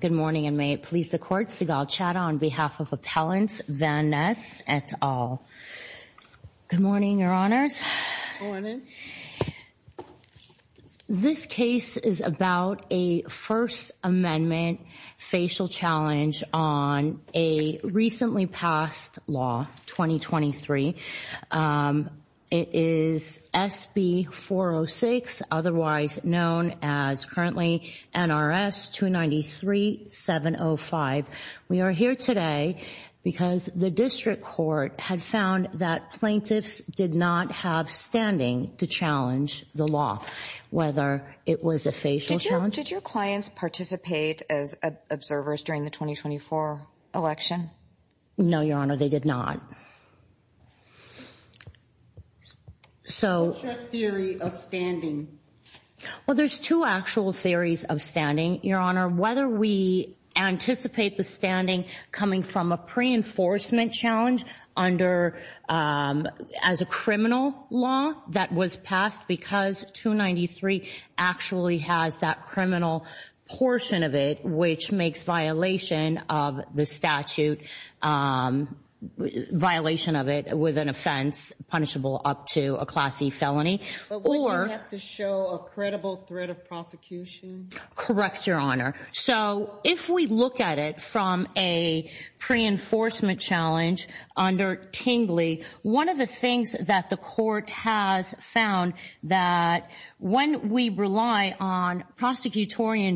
Good morning and may it please the court, Seagal Chada on behalf of Appellant Vanness et al. Good morning, your honors. Good morning. This case is about a First Amendment facial challenge on a recently passed law, 2023. It is SB 406, otherwise known as currently NRS 293-705. We are here today because the district court had found that plaintiffs did not have standing to challenge the law, whether it was a facial challenge. Did your clients participate as observers during the 2024 election? No, your honor, they did not. So what's your theory of standing? Well, there's two actual theories of standing, your honor. Whether we anticipate the standing coming from a pre-enforcement challenge under, as a criminal law that was passed because 293 actually has that criminal portion of it, which makes violation of the statute, violation of it with an offense punishable up to a Class E felony. But wouldn't you have to show a credible threat of prosecution? Correct, your honor. So if we look at it from a pre-enforcement challenge under Tingley, one of the things that the court has found that when we rely on prosecutorial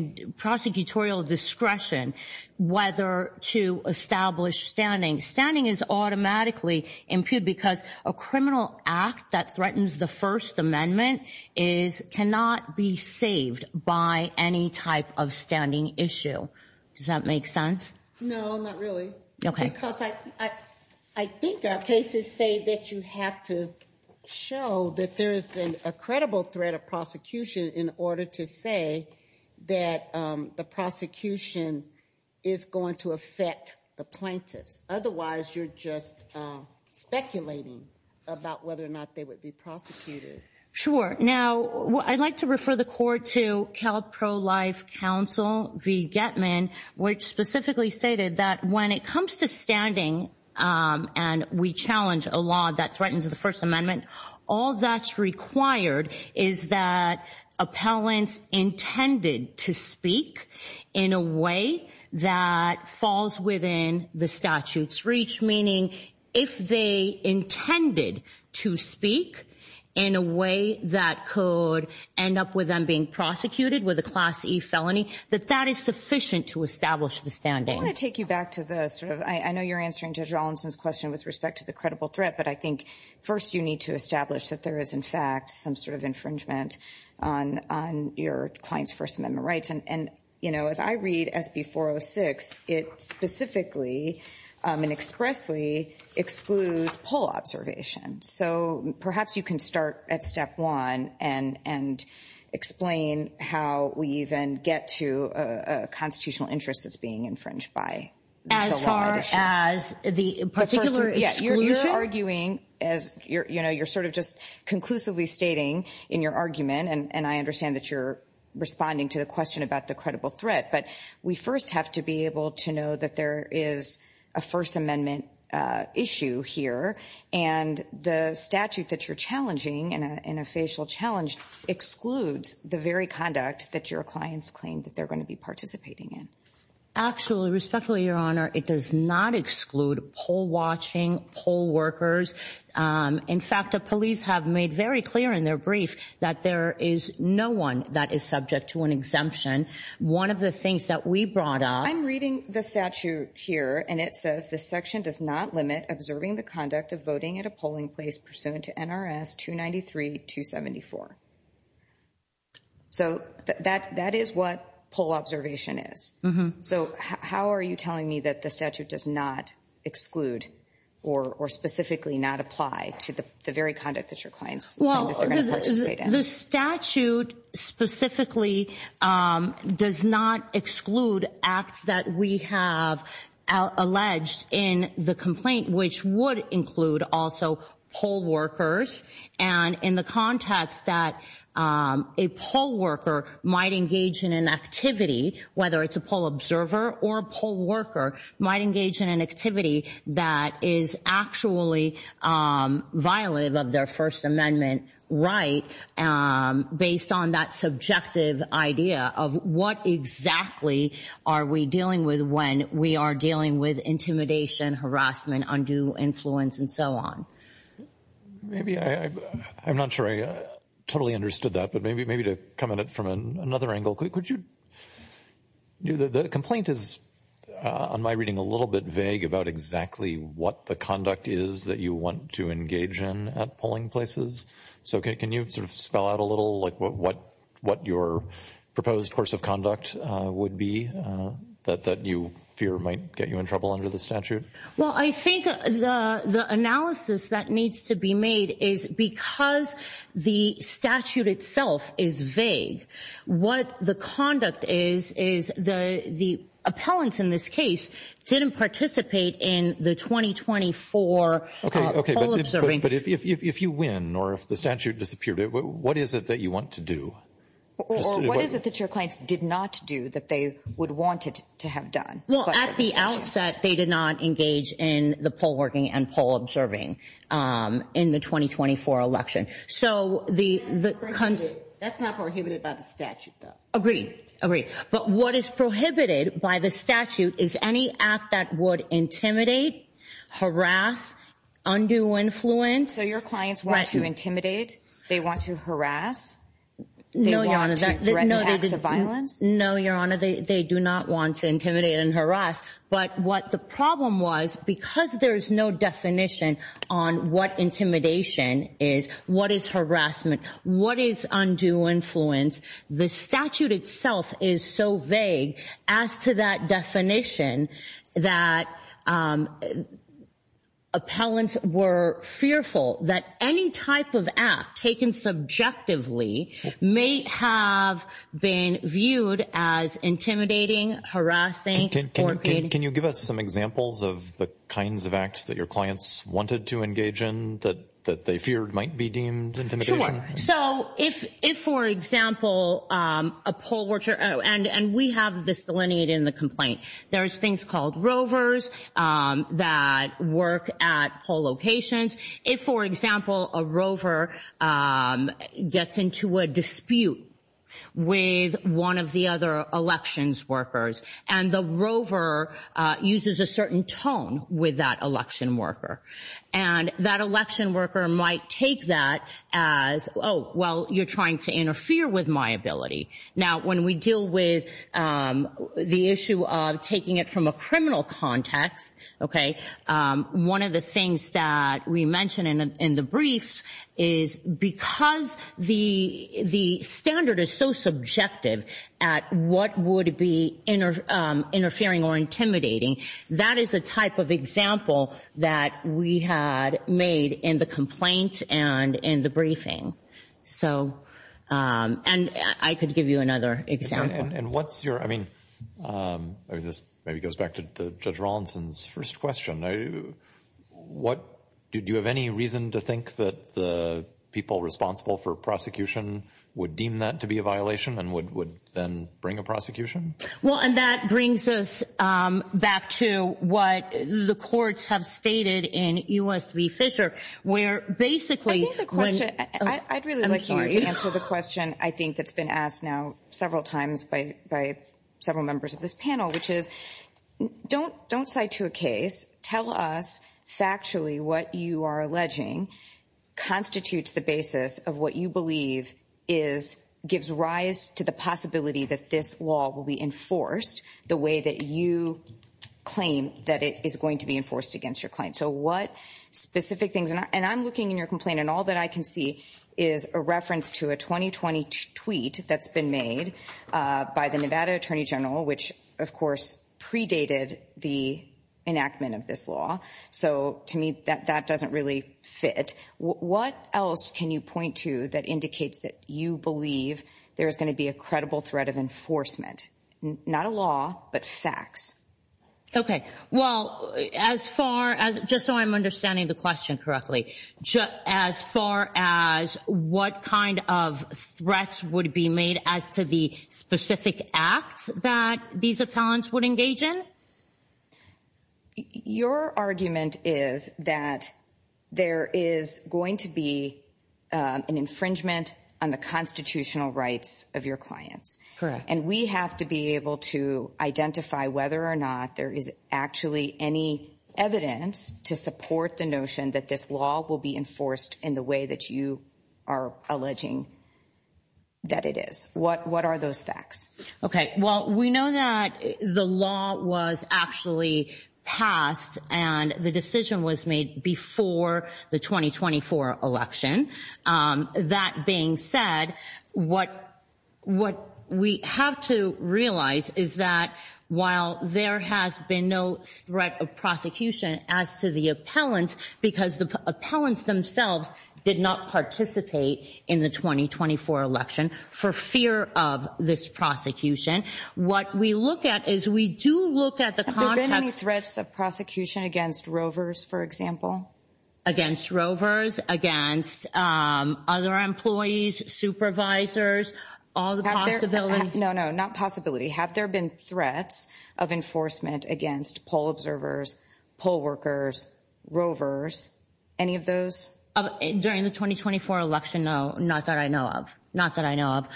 discretion, whether to establish standing, standing is automatically impugned because a criminal act that threatens the First Amendment cannot be saved by any type of standing issue. Does that make sense? No, not really. Because I think our cases say that you have to show that there is a credible threat of prosecution in order to say that the prosecution is going to affect the plaintiffs. Otherwise, you're just speculating about whether or not they would be prosecuted. Sure. Now, I'd like to refer the court to Cal Pro-Life Council v. Getman, which specifically stated that when it comes to standing and we challenge a law that threatens the First Amendment, all that's required is that appellants intended to speak in a way that falls within the statute's reach, meaning if they intended to speak in a way that could end up with them being prosecuted with a Class E felony, that that is sufficient to establish the standing. I want to take you back to the sort of, I know you're answering Judge Rollinson's question with respect to the credible threat, but I think first you need to establish that there is in fact some sort of infringement on your client's First Amendment rights. And you know, as I read SB 406, it specifically and expressly excludes poll observation. So perhaps you can start at step one and explain how we even get to a constitutional interest that's being infringed by the law. As far as the particular exclusion? Yes, you're arguing as you're sort of just conclusively stating in your argument, and I understand that you're responding to the question about the credible threat, but we first have to be able to know that there is a First Amendment issue here and the statute that you're challenging in a facial challenge excludes the very conduct that your clients claim that they're going to be participating in. Actually, respectfully, Your Honor, it does not exclude poll watching, poll workers. In fact, the police have made very in their brief that there is no one that is subject to an exemption. One of the things that we brought up. I'm reading the statute here and it says this section does not limit observing the conduct of voting at a polling place pursuant to NRS 293-274. So that is what poll observation is. So how are you telling me that the statute does not exclude or specifically not apply to the very conduct that your clients? Well, the statute specifically does not exclude acts that we have alleged in the complaint, which would include also poll workers and in the context that a poll worker might engage in an activity, whether it's a poll observer or poll worker might engage in an activity that is actually violent of their First Amendment right based on that subjective idea of what exactly are we dealing with when we are dealing with intimidation, harassment, undue influence and so on. Maybe I'm not sure I totally understood that, maybe to come at it from another angle, could you? The complaint is, on my reading, a little bit vague about exactly what the conduct is that you want to engage in at polling places. So can you sort of spell out a little like what your proposed course of conduct would be that you fear might get you in trouble under the statute? Well, I think the analysis that needs to be made is because the statute itself is vague, what the conduct is, is the the appellants in this case didn't participate in the 2024 poll observing. But if you win or if the statute disappeared, what is it that you want to do? Or what is it that your clients did not do that they would want it to have done? Well, at the outset, they did not engage in the poll and poll observing in the 2024 election. So that's not prohibited by the statute, though. Agreed. Agreed. But what is prohibited by the statute is any act that would intimidate, harass, undue influence. So your clients want to intimidate? They want to harass? No, Your Honor. No, Your Honor. They do not want to intimidate and harass. But what the problem was, because there is no definition on what intimidation is, what is harassment, what is undue influence, the statute itself is so vague as to that definition that appellants were fearful that any type of act taken subjectively may have been viewed as intimidating, harassing. Can you give us some examples of the kinds of acts that your clients wanted to engage in that they feared might be deemed intimidation? Sure. So if, for example, a poll watcher, and we have this delineated in the complaint, there's things called rovers that work at poll locations. If, for example, a rover gets into a dispute with one of the other elections workers, and the rover uses a certain tone with that election worker, and that election worker might take that as, oh, well, you're trying to interfere with my ability. Now, when we deal with the issue of taking it from a criminal context, okay, one of the things that we mention in the briefs is because the standard is so subjective at what would be interfering or intimidating, that is a type of example that we had made in the complaint and in the briefing. So, and I could give you another example. And what's your, I mean, this maybe goes back to Judge Rawlinson's first question. What, do you have any reason to think that the people responsible for prosecution would deem that to be a violation and would then bring a prosecution? Well, and that brings us back to what the courts have stated in U.S. v. Fisher, where basically... I think the question, I'd really like you to answer the question. I think it's been asked now several times by several members of this panel, which is, don't cite to a case. Tell us factually what you are alleging constitutes the basis of what you believe gives rise to the possibility that this law will be enforced the way that you claim that it is going to be enforced against your claim. So, what specific things... And I'm looking in your tweet that's been made by the Nevada Attorney General, which, of course, predated the enactment of this law. So, to me, that doesn't really fit. What else can you point to that indicates that you believe there is going to be a credible threat of enforcement? Not a law, but facts. Okay. Well, as far as, just so I'm understanding the question correctly, as far as what kind of threats would be made as to the specific acts that these appellants would engage in? Your argument is that there is going to be an infringement on the constitutional rights of your clients. Correct. And we have to be able to identify whether or not there is actually any evidence to support the notion that this law will be enforced in the way that you are alleging that it is. What are those facts? Okay. Well, we know that the law was actually passed and the decision was made before the 2024 election. That being said, what we have to realize is that while there has been no threat of prosecution as to the appellants, because the appellants themselves did not participate in the 2024 election for fear of this prosecution, what we look at is we do look at the context... Have there been any threats of prosecution against Rovers, for example? Against Rovers, against other employees, supervisors, all the possibility... No, no, not possibility. Have there been threats of enforcement against poll observers, poll workers, Rovers, any of those? During the 2024 election? No, not that I know of. Not that I know of.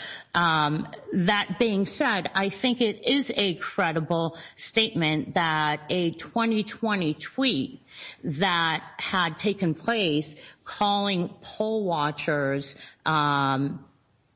That being said, I think it is a credible statement that a 2020 tweet that had taken place calling poll watchers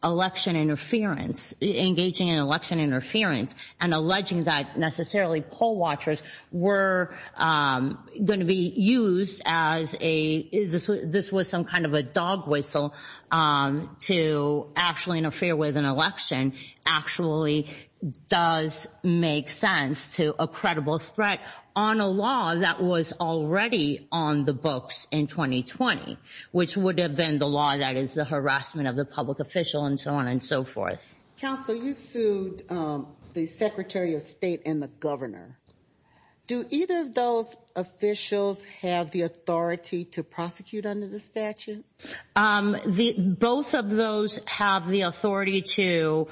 election interference, engaging in election interference, and alleging that necessarily poll watchers were going to be used as a... This was some kind of a dog whistle to actually interfere with an election actually does make sense to a credible threat on a law that was already on the books in 2020, which would have been the law that is the harassment of the public official and so on and so forth. Counsel, you sued the secretary of state and the governor. Do either of those officials have the authority to prosecute under the statute? Both of those have the authority to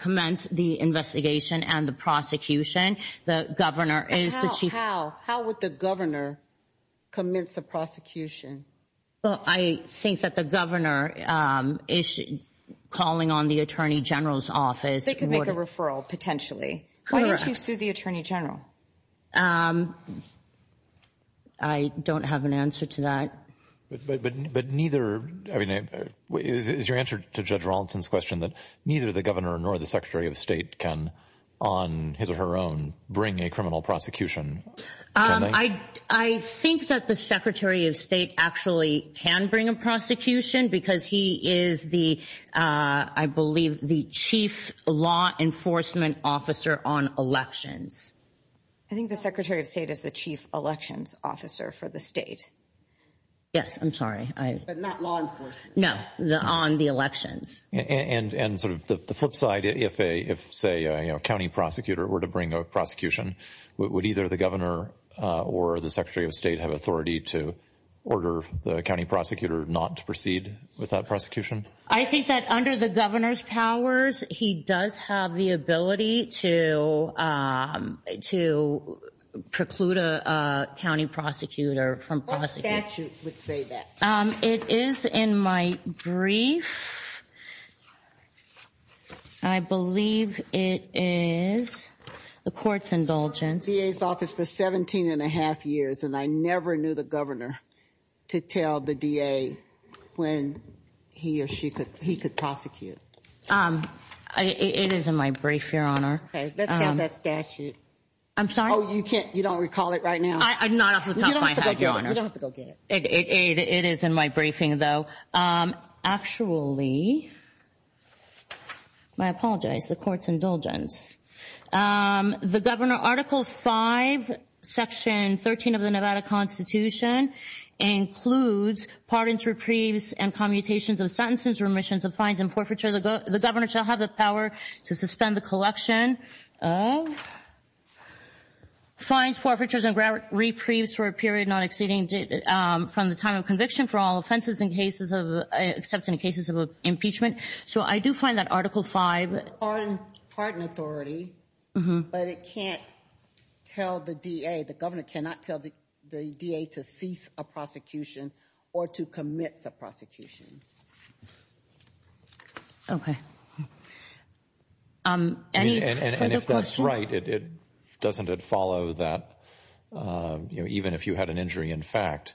commence the investigation and the prosecution. The governor is the chief... How? How would the governor commence a prosecution? Well, I think that the governor is calling on the attorney general's office... They could make a referral potentially. Why don't you sue the attorney general? I don't have an answer to that. But neither... Is your answer to Judge Rawlinson's question that neither the governor nor the secretary of state can on his or her own bring a criminal prosecution? I think that the secretary of state actually can bring a prosecution because he is the, I believe, the chief law enforcement officer on elections. I think the secretary of state is the chief elections officer for the state. Yes, I'm sorry. But not law enforcement. No, on the elections. And sort of the flip side, if, say, a county prosecutor were to bring a prosecution, would either the governor or the secretary of state have authority to order the county prosecutor not to proceed with that prosecution? I think that under the governor's powers, he does have the ability to preclude a county prosecutor from prosecuting... Would say that. It is in my brief. I believe it is the court's indulgence... DA's office for 17 and a half years, and I never knew the governor to tell the DA when he or she could, he could prosecute. It is in my brief, Your Honor. Okay, let's have that statute. I'm sorry. Oh, you can't, you don't recall it right now? I'm not off the top of my head, Your Honor. You don't have to go get it. It is in my briefing, though. Actually, I apologize. The court's indulgence. The governor, Article 5, Section 13 of the Nevada Constitution includes pardons, reprieves, and commutations of sentences, remissions of fines and forfeiture. The governor shall have the power to suspend the collection of fines, forfeitures, and reprieves for a period not exceeding from the time of conviction for all offenses in cases of, except in cases of impeachment. So I do find that Article 5... On pardon authority, but it can't tell the DA. The governor cannot tell the DA to cease a prosecution or to commit a prosecution. Okay. And if that's right, doesn't it follow that, you know, even if you had an injury, in fact,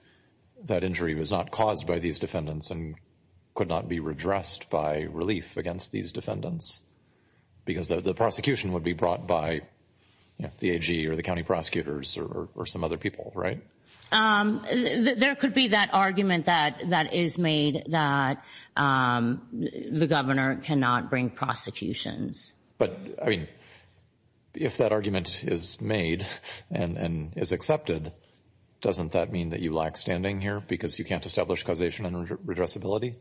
that injury was not caused by these defendants and could not be redressed by relief against these defendants because the prosecution would be brought by the AG or the county prosecutors or some other people, right? There could be that argument that is made that the governor cannot bring prosecutions. But I mean, if that argument is made and is accepted, doesn't that mean that you lack standing here because you can't establish causation and redressability?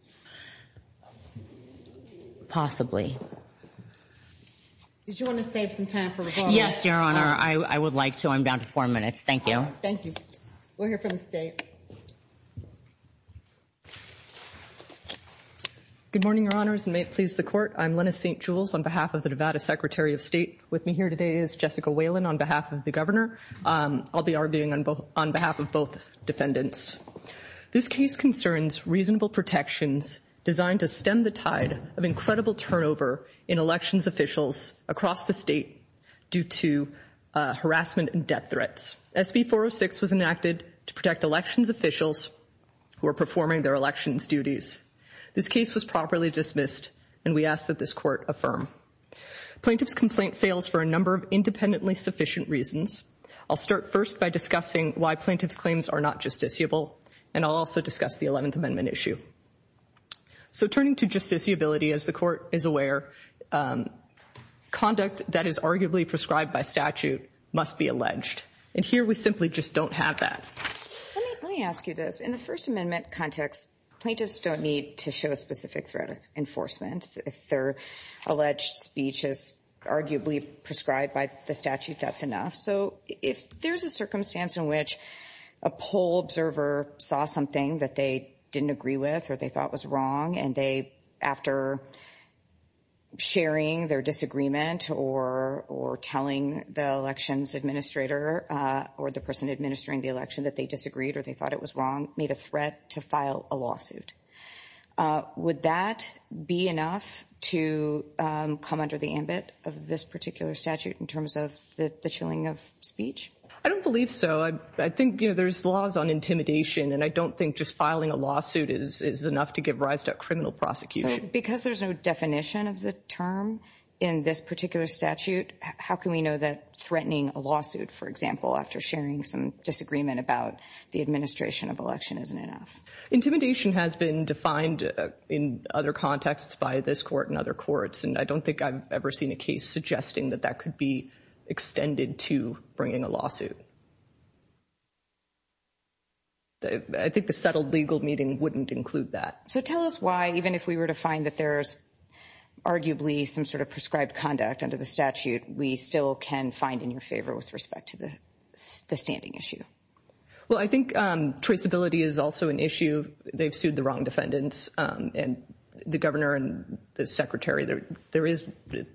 Possibly. Did you want to save some time for rebuttal? Yes, Your Honor. I would like to. I'm down to four minutes. Thank you. Thank you. We're here for the state. Good morning, Your Honors, and may it please the court. I'm Lennis St. Jules on behalf of the Nevada Secretary of State. With me here today is Jessica Whalen on behalf of the governor. I'll be arguing on behalf of both defendants. This case concerns reasonable protections designed to stem the tide of incredible turnover in elections officials across the state due to harassment and death threats. SB 406 was enacted to protect elections officials who are performing their elections duties. This case was properly dismissed, and we ask that this court affirm. Plaintiff's complaint fails for a number of independently sufficient reasons. I'll start first by discussing why plaintiff's claims are not justiciable, and I'll also discuss the 11th Amendment issue. So turning to justiciability, as the court is aware, conduct that is arguably prescribed by statute must be alleged. And here we simply just don't have that. Let me ask you this. In the First Amendment context, plaintiffs don't need to show a specific threat of enforcement. If their alleged speech is arguably prescribed by the statute, that's enough. So if there's a circumstance in which a poll observer saw something that they didn't agree with or they thought was wrong, and they, after sharing their disagreement or telling the elections administrator or the person administering the election that they disagreed or they thought it was wrong, made a threat to file a lawsuit, would that be enough to come under the ambit of this particular statute in terms of the chilling of speech? I don't believe so. I think, you know, there's laws on intimidation, and I don't think just filing a lawsuit is enough to give rise to a criminal prosecution. Because there's no definition of the term in this particular statute, how can we know that threatening a lawsuit, for example, after sharing some disagreement about the administration of election isn't enough? Intimidation has been defined in other contexts by this court and other courts, and I don't think I've ever seen a case suggesting that that could be extended to bringing a lawsuit. I think the settled legal meeting wouldn't include that. So tell us why, even if we were to find that there's arguably some sort of prescribed conduct under the statute, we still can find in your favor with respect to the standing issue? Well, I think traceability is also an issue. They've sued the wrong defendants and the governor and the secretary. There is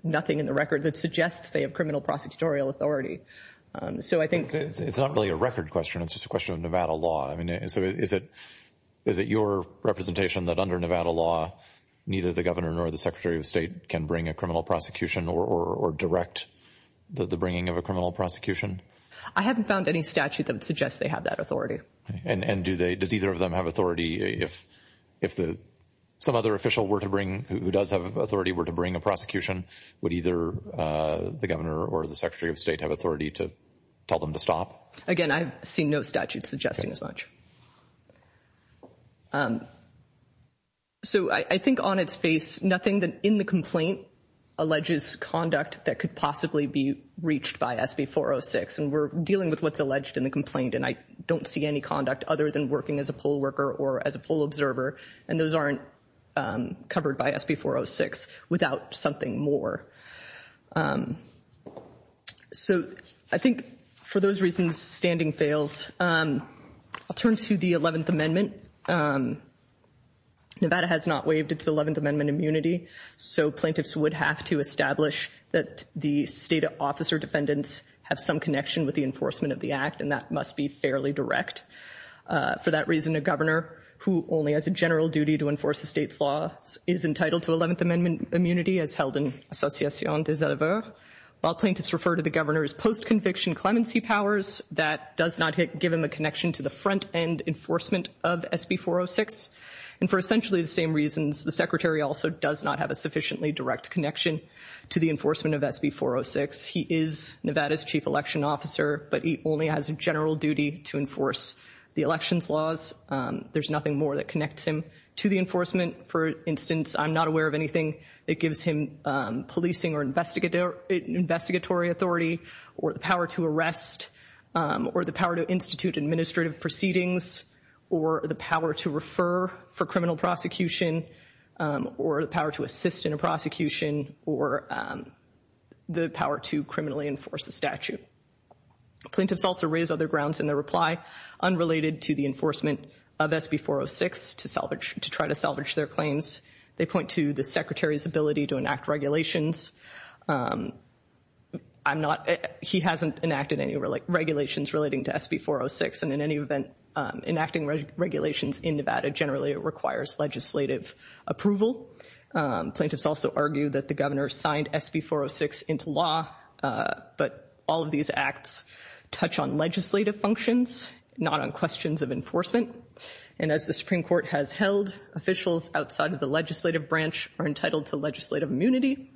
nothing in the record that suggests they have criminal prosecutorial authority. So I think... It's not really a record question. It's just a question of Nevada law. So is it your representation that under Nevada law, neither the governor nor the secretary of state can bring a criminal prosecution or direct the bringing of a criminal prosecution? I haven't found any statute that suggests they have that authority. And does either of them have authority? If some other official who does have authority were to bring a prosecution, would either the governor or the secretary of state have authority to tell them to stop? Again, I've seen no statute suggesting as much. So I think on its face, nothing that in the complaint alleges conduct that could possibly be reached by SB 406. And we're dealing with what's alleged in the complaint. And I don't see any conduct other than working as a poll worker or as a poll observer. And those aren't covered by SB 406 without something more. So I think for those reasons, standing fails. I'll turn to the 11th Amendment. Nevada has not waived its 11th Amendment immunity. So plaintiffs would have to establish that the state officer defendants have some connection with the enforcement of the act. And that must be fairly direct. For that reason, a governor who only has a general duty to enforce the state's law is entitled to 11th Amendment immunity as held in association with the state. While plaintiffs refer to the governor's post-conviction clemency powers, that does not give him a connection to the front end enforcement of SB 406. And for essentially the same reasons, the secretary also does not have a sufficiently direct connection to the enforcement of SB 406. He is Nevada's chief election officer, but he only has a general duty to enforce the election's laws. There's nothing more that connects him to the enforcement. For instance, I'm not aware of anything that gives him policing or investigatory authority, or the power to arrest, or the power to institute administrative proceedings, or the power to refer for criminal prosecution, or the power to assist in a prosecution, or the power to criminally enforce the statute. Plaintiffs also raise other grounds in their reply, unrelated to the enforcement of SB 406 to try to salvage their claims. They point to the secretary's ability to enact regulations. He hasn't enacted any regulations relating to SB 406, and in any event, enacting regulations in Nevada generally requires legislative approval. Plaintiffs also argue that the governor signed SB 406 into law, but all of these acts touch on legislative functions. Not on questions of enforcement. And as the Supreme Court has held, officials outside of the legislative branch are entitled to legislative immunity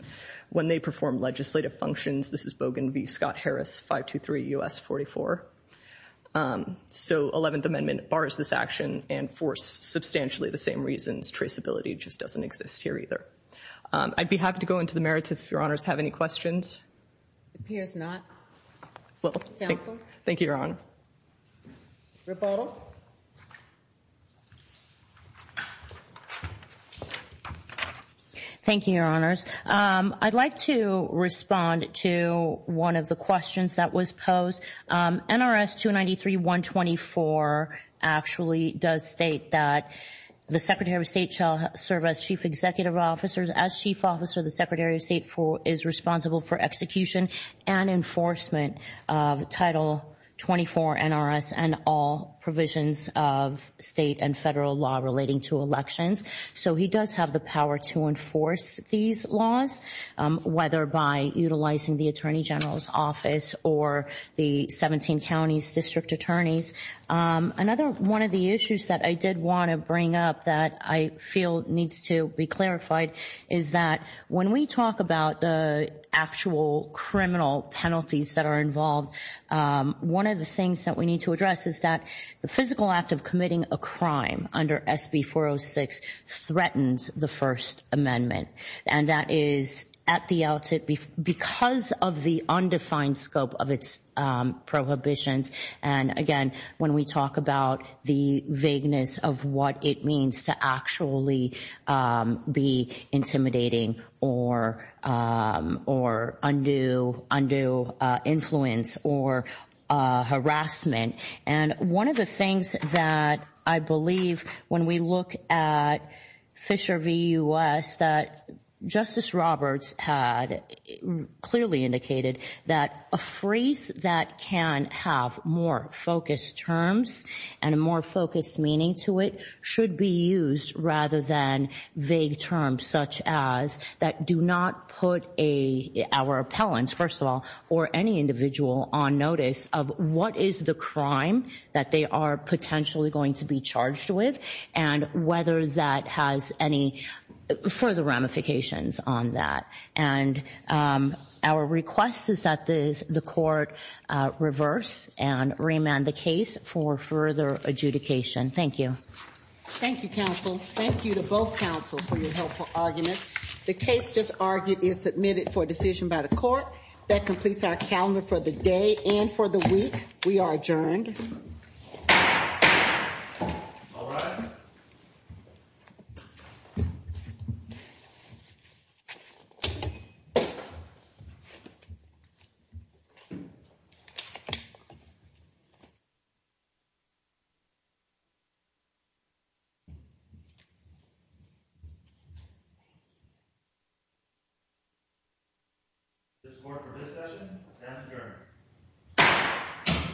when they perform legislative functions. This is Bogan v. Scott-Harris, 523 U.S. 44. So 11th Amendment bars this action and for substantially the same reasons. Traceability just doesn't exist here either. I'd be happy to go into the merits if your honors have any questions. It appears not. Well, thank you, Your Honor. Rebuttal. Thank you, Your Honors. I'd like to respond to one of the questions that was posed. NRS 293-124 actually does state that the Secretary of State shall serve as Chief Executive Officer. As Chief Officer, the Secretary of State is responsible for execution and enforcement of Title 24 NRS and all provisions of state and federal law relating to elections. So he does have the power to enforce these laws, whether by utilizing the Attorney General's office or the 17 counties district attorneys. Another one of the issues that I did want to bring up that I feel needs to be clarified is that when we talk about the actual criminal penalties that are involved, one of the things that we need to address is that the physical act of committing a crime under SB 406 threatens the First Amendment. And that is at the outset because of the undefined scope of its prohibitions. And again, when we talk about the vagueness of what it means to actually be intimidating or undo influence or harassment. And one of the things that I believe when we look at Fisher v. U.S., that Justice Roberts had clearly indicated that a phrase that can have more focused terms and a more focused meaning to it should be used rather than vague terms such as that do not put our appellants, first of all, or any individual on notice of what is the crime that they are potentially going to be charged with and whether that has any further ramifications on that. And our request is that the court reverse and remand the case for further adjudication. Thank you. Thank you, counsel. Thank you to both counsel for your helpful arguments. The case just argued is submitted for decision by the court. That completes our calendar for the day and for the week. We are adjourned. All right. Thank you. This court for this session has adjourned.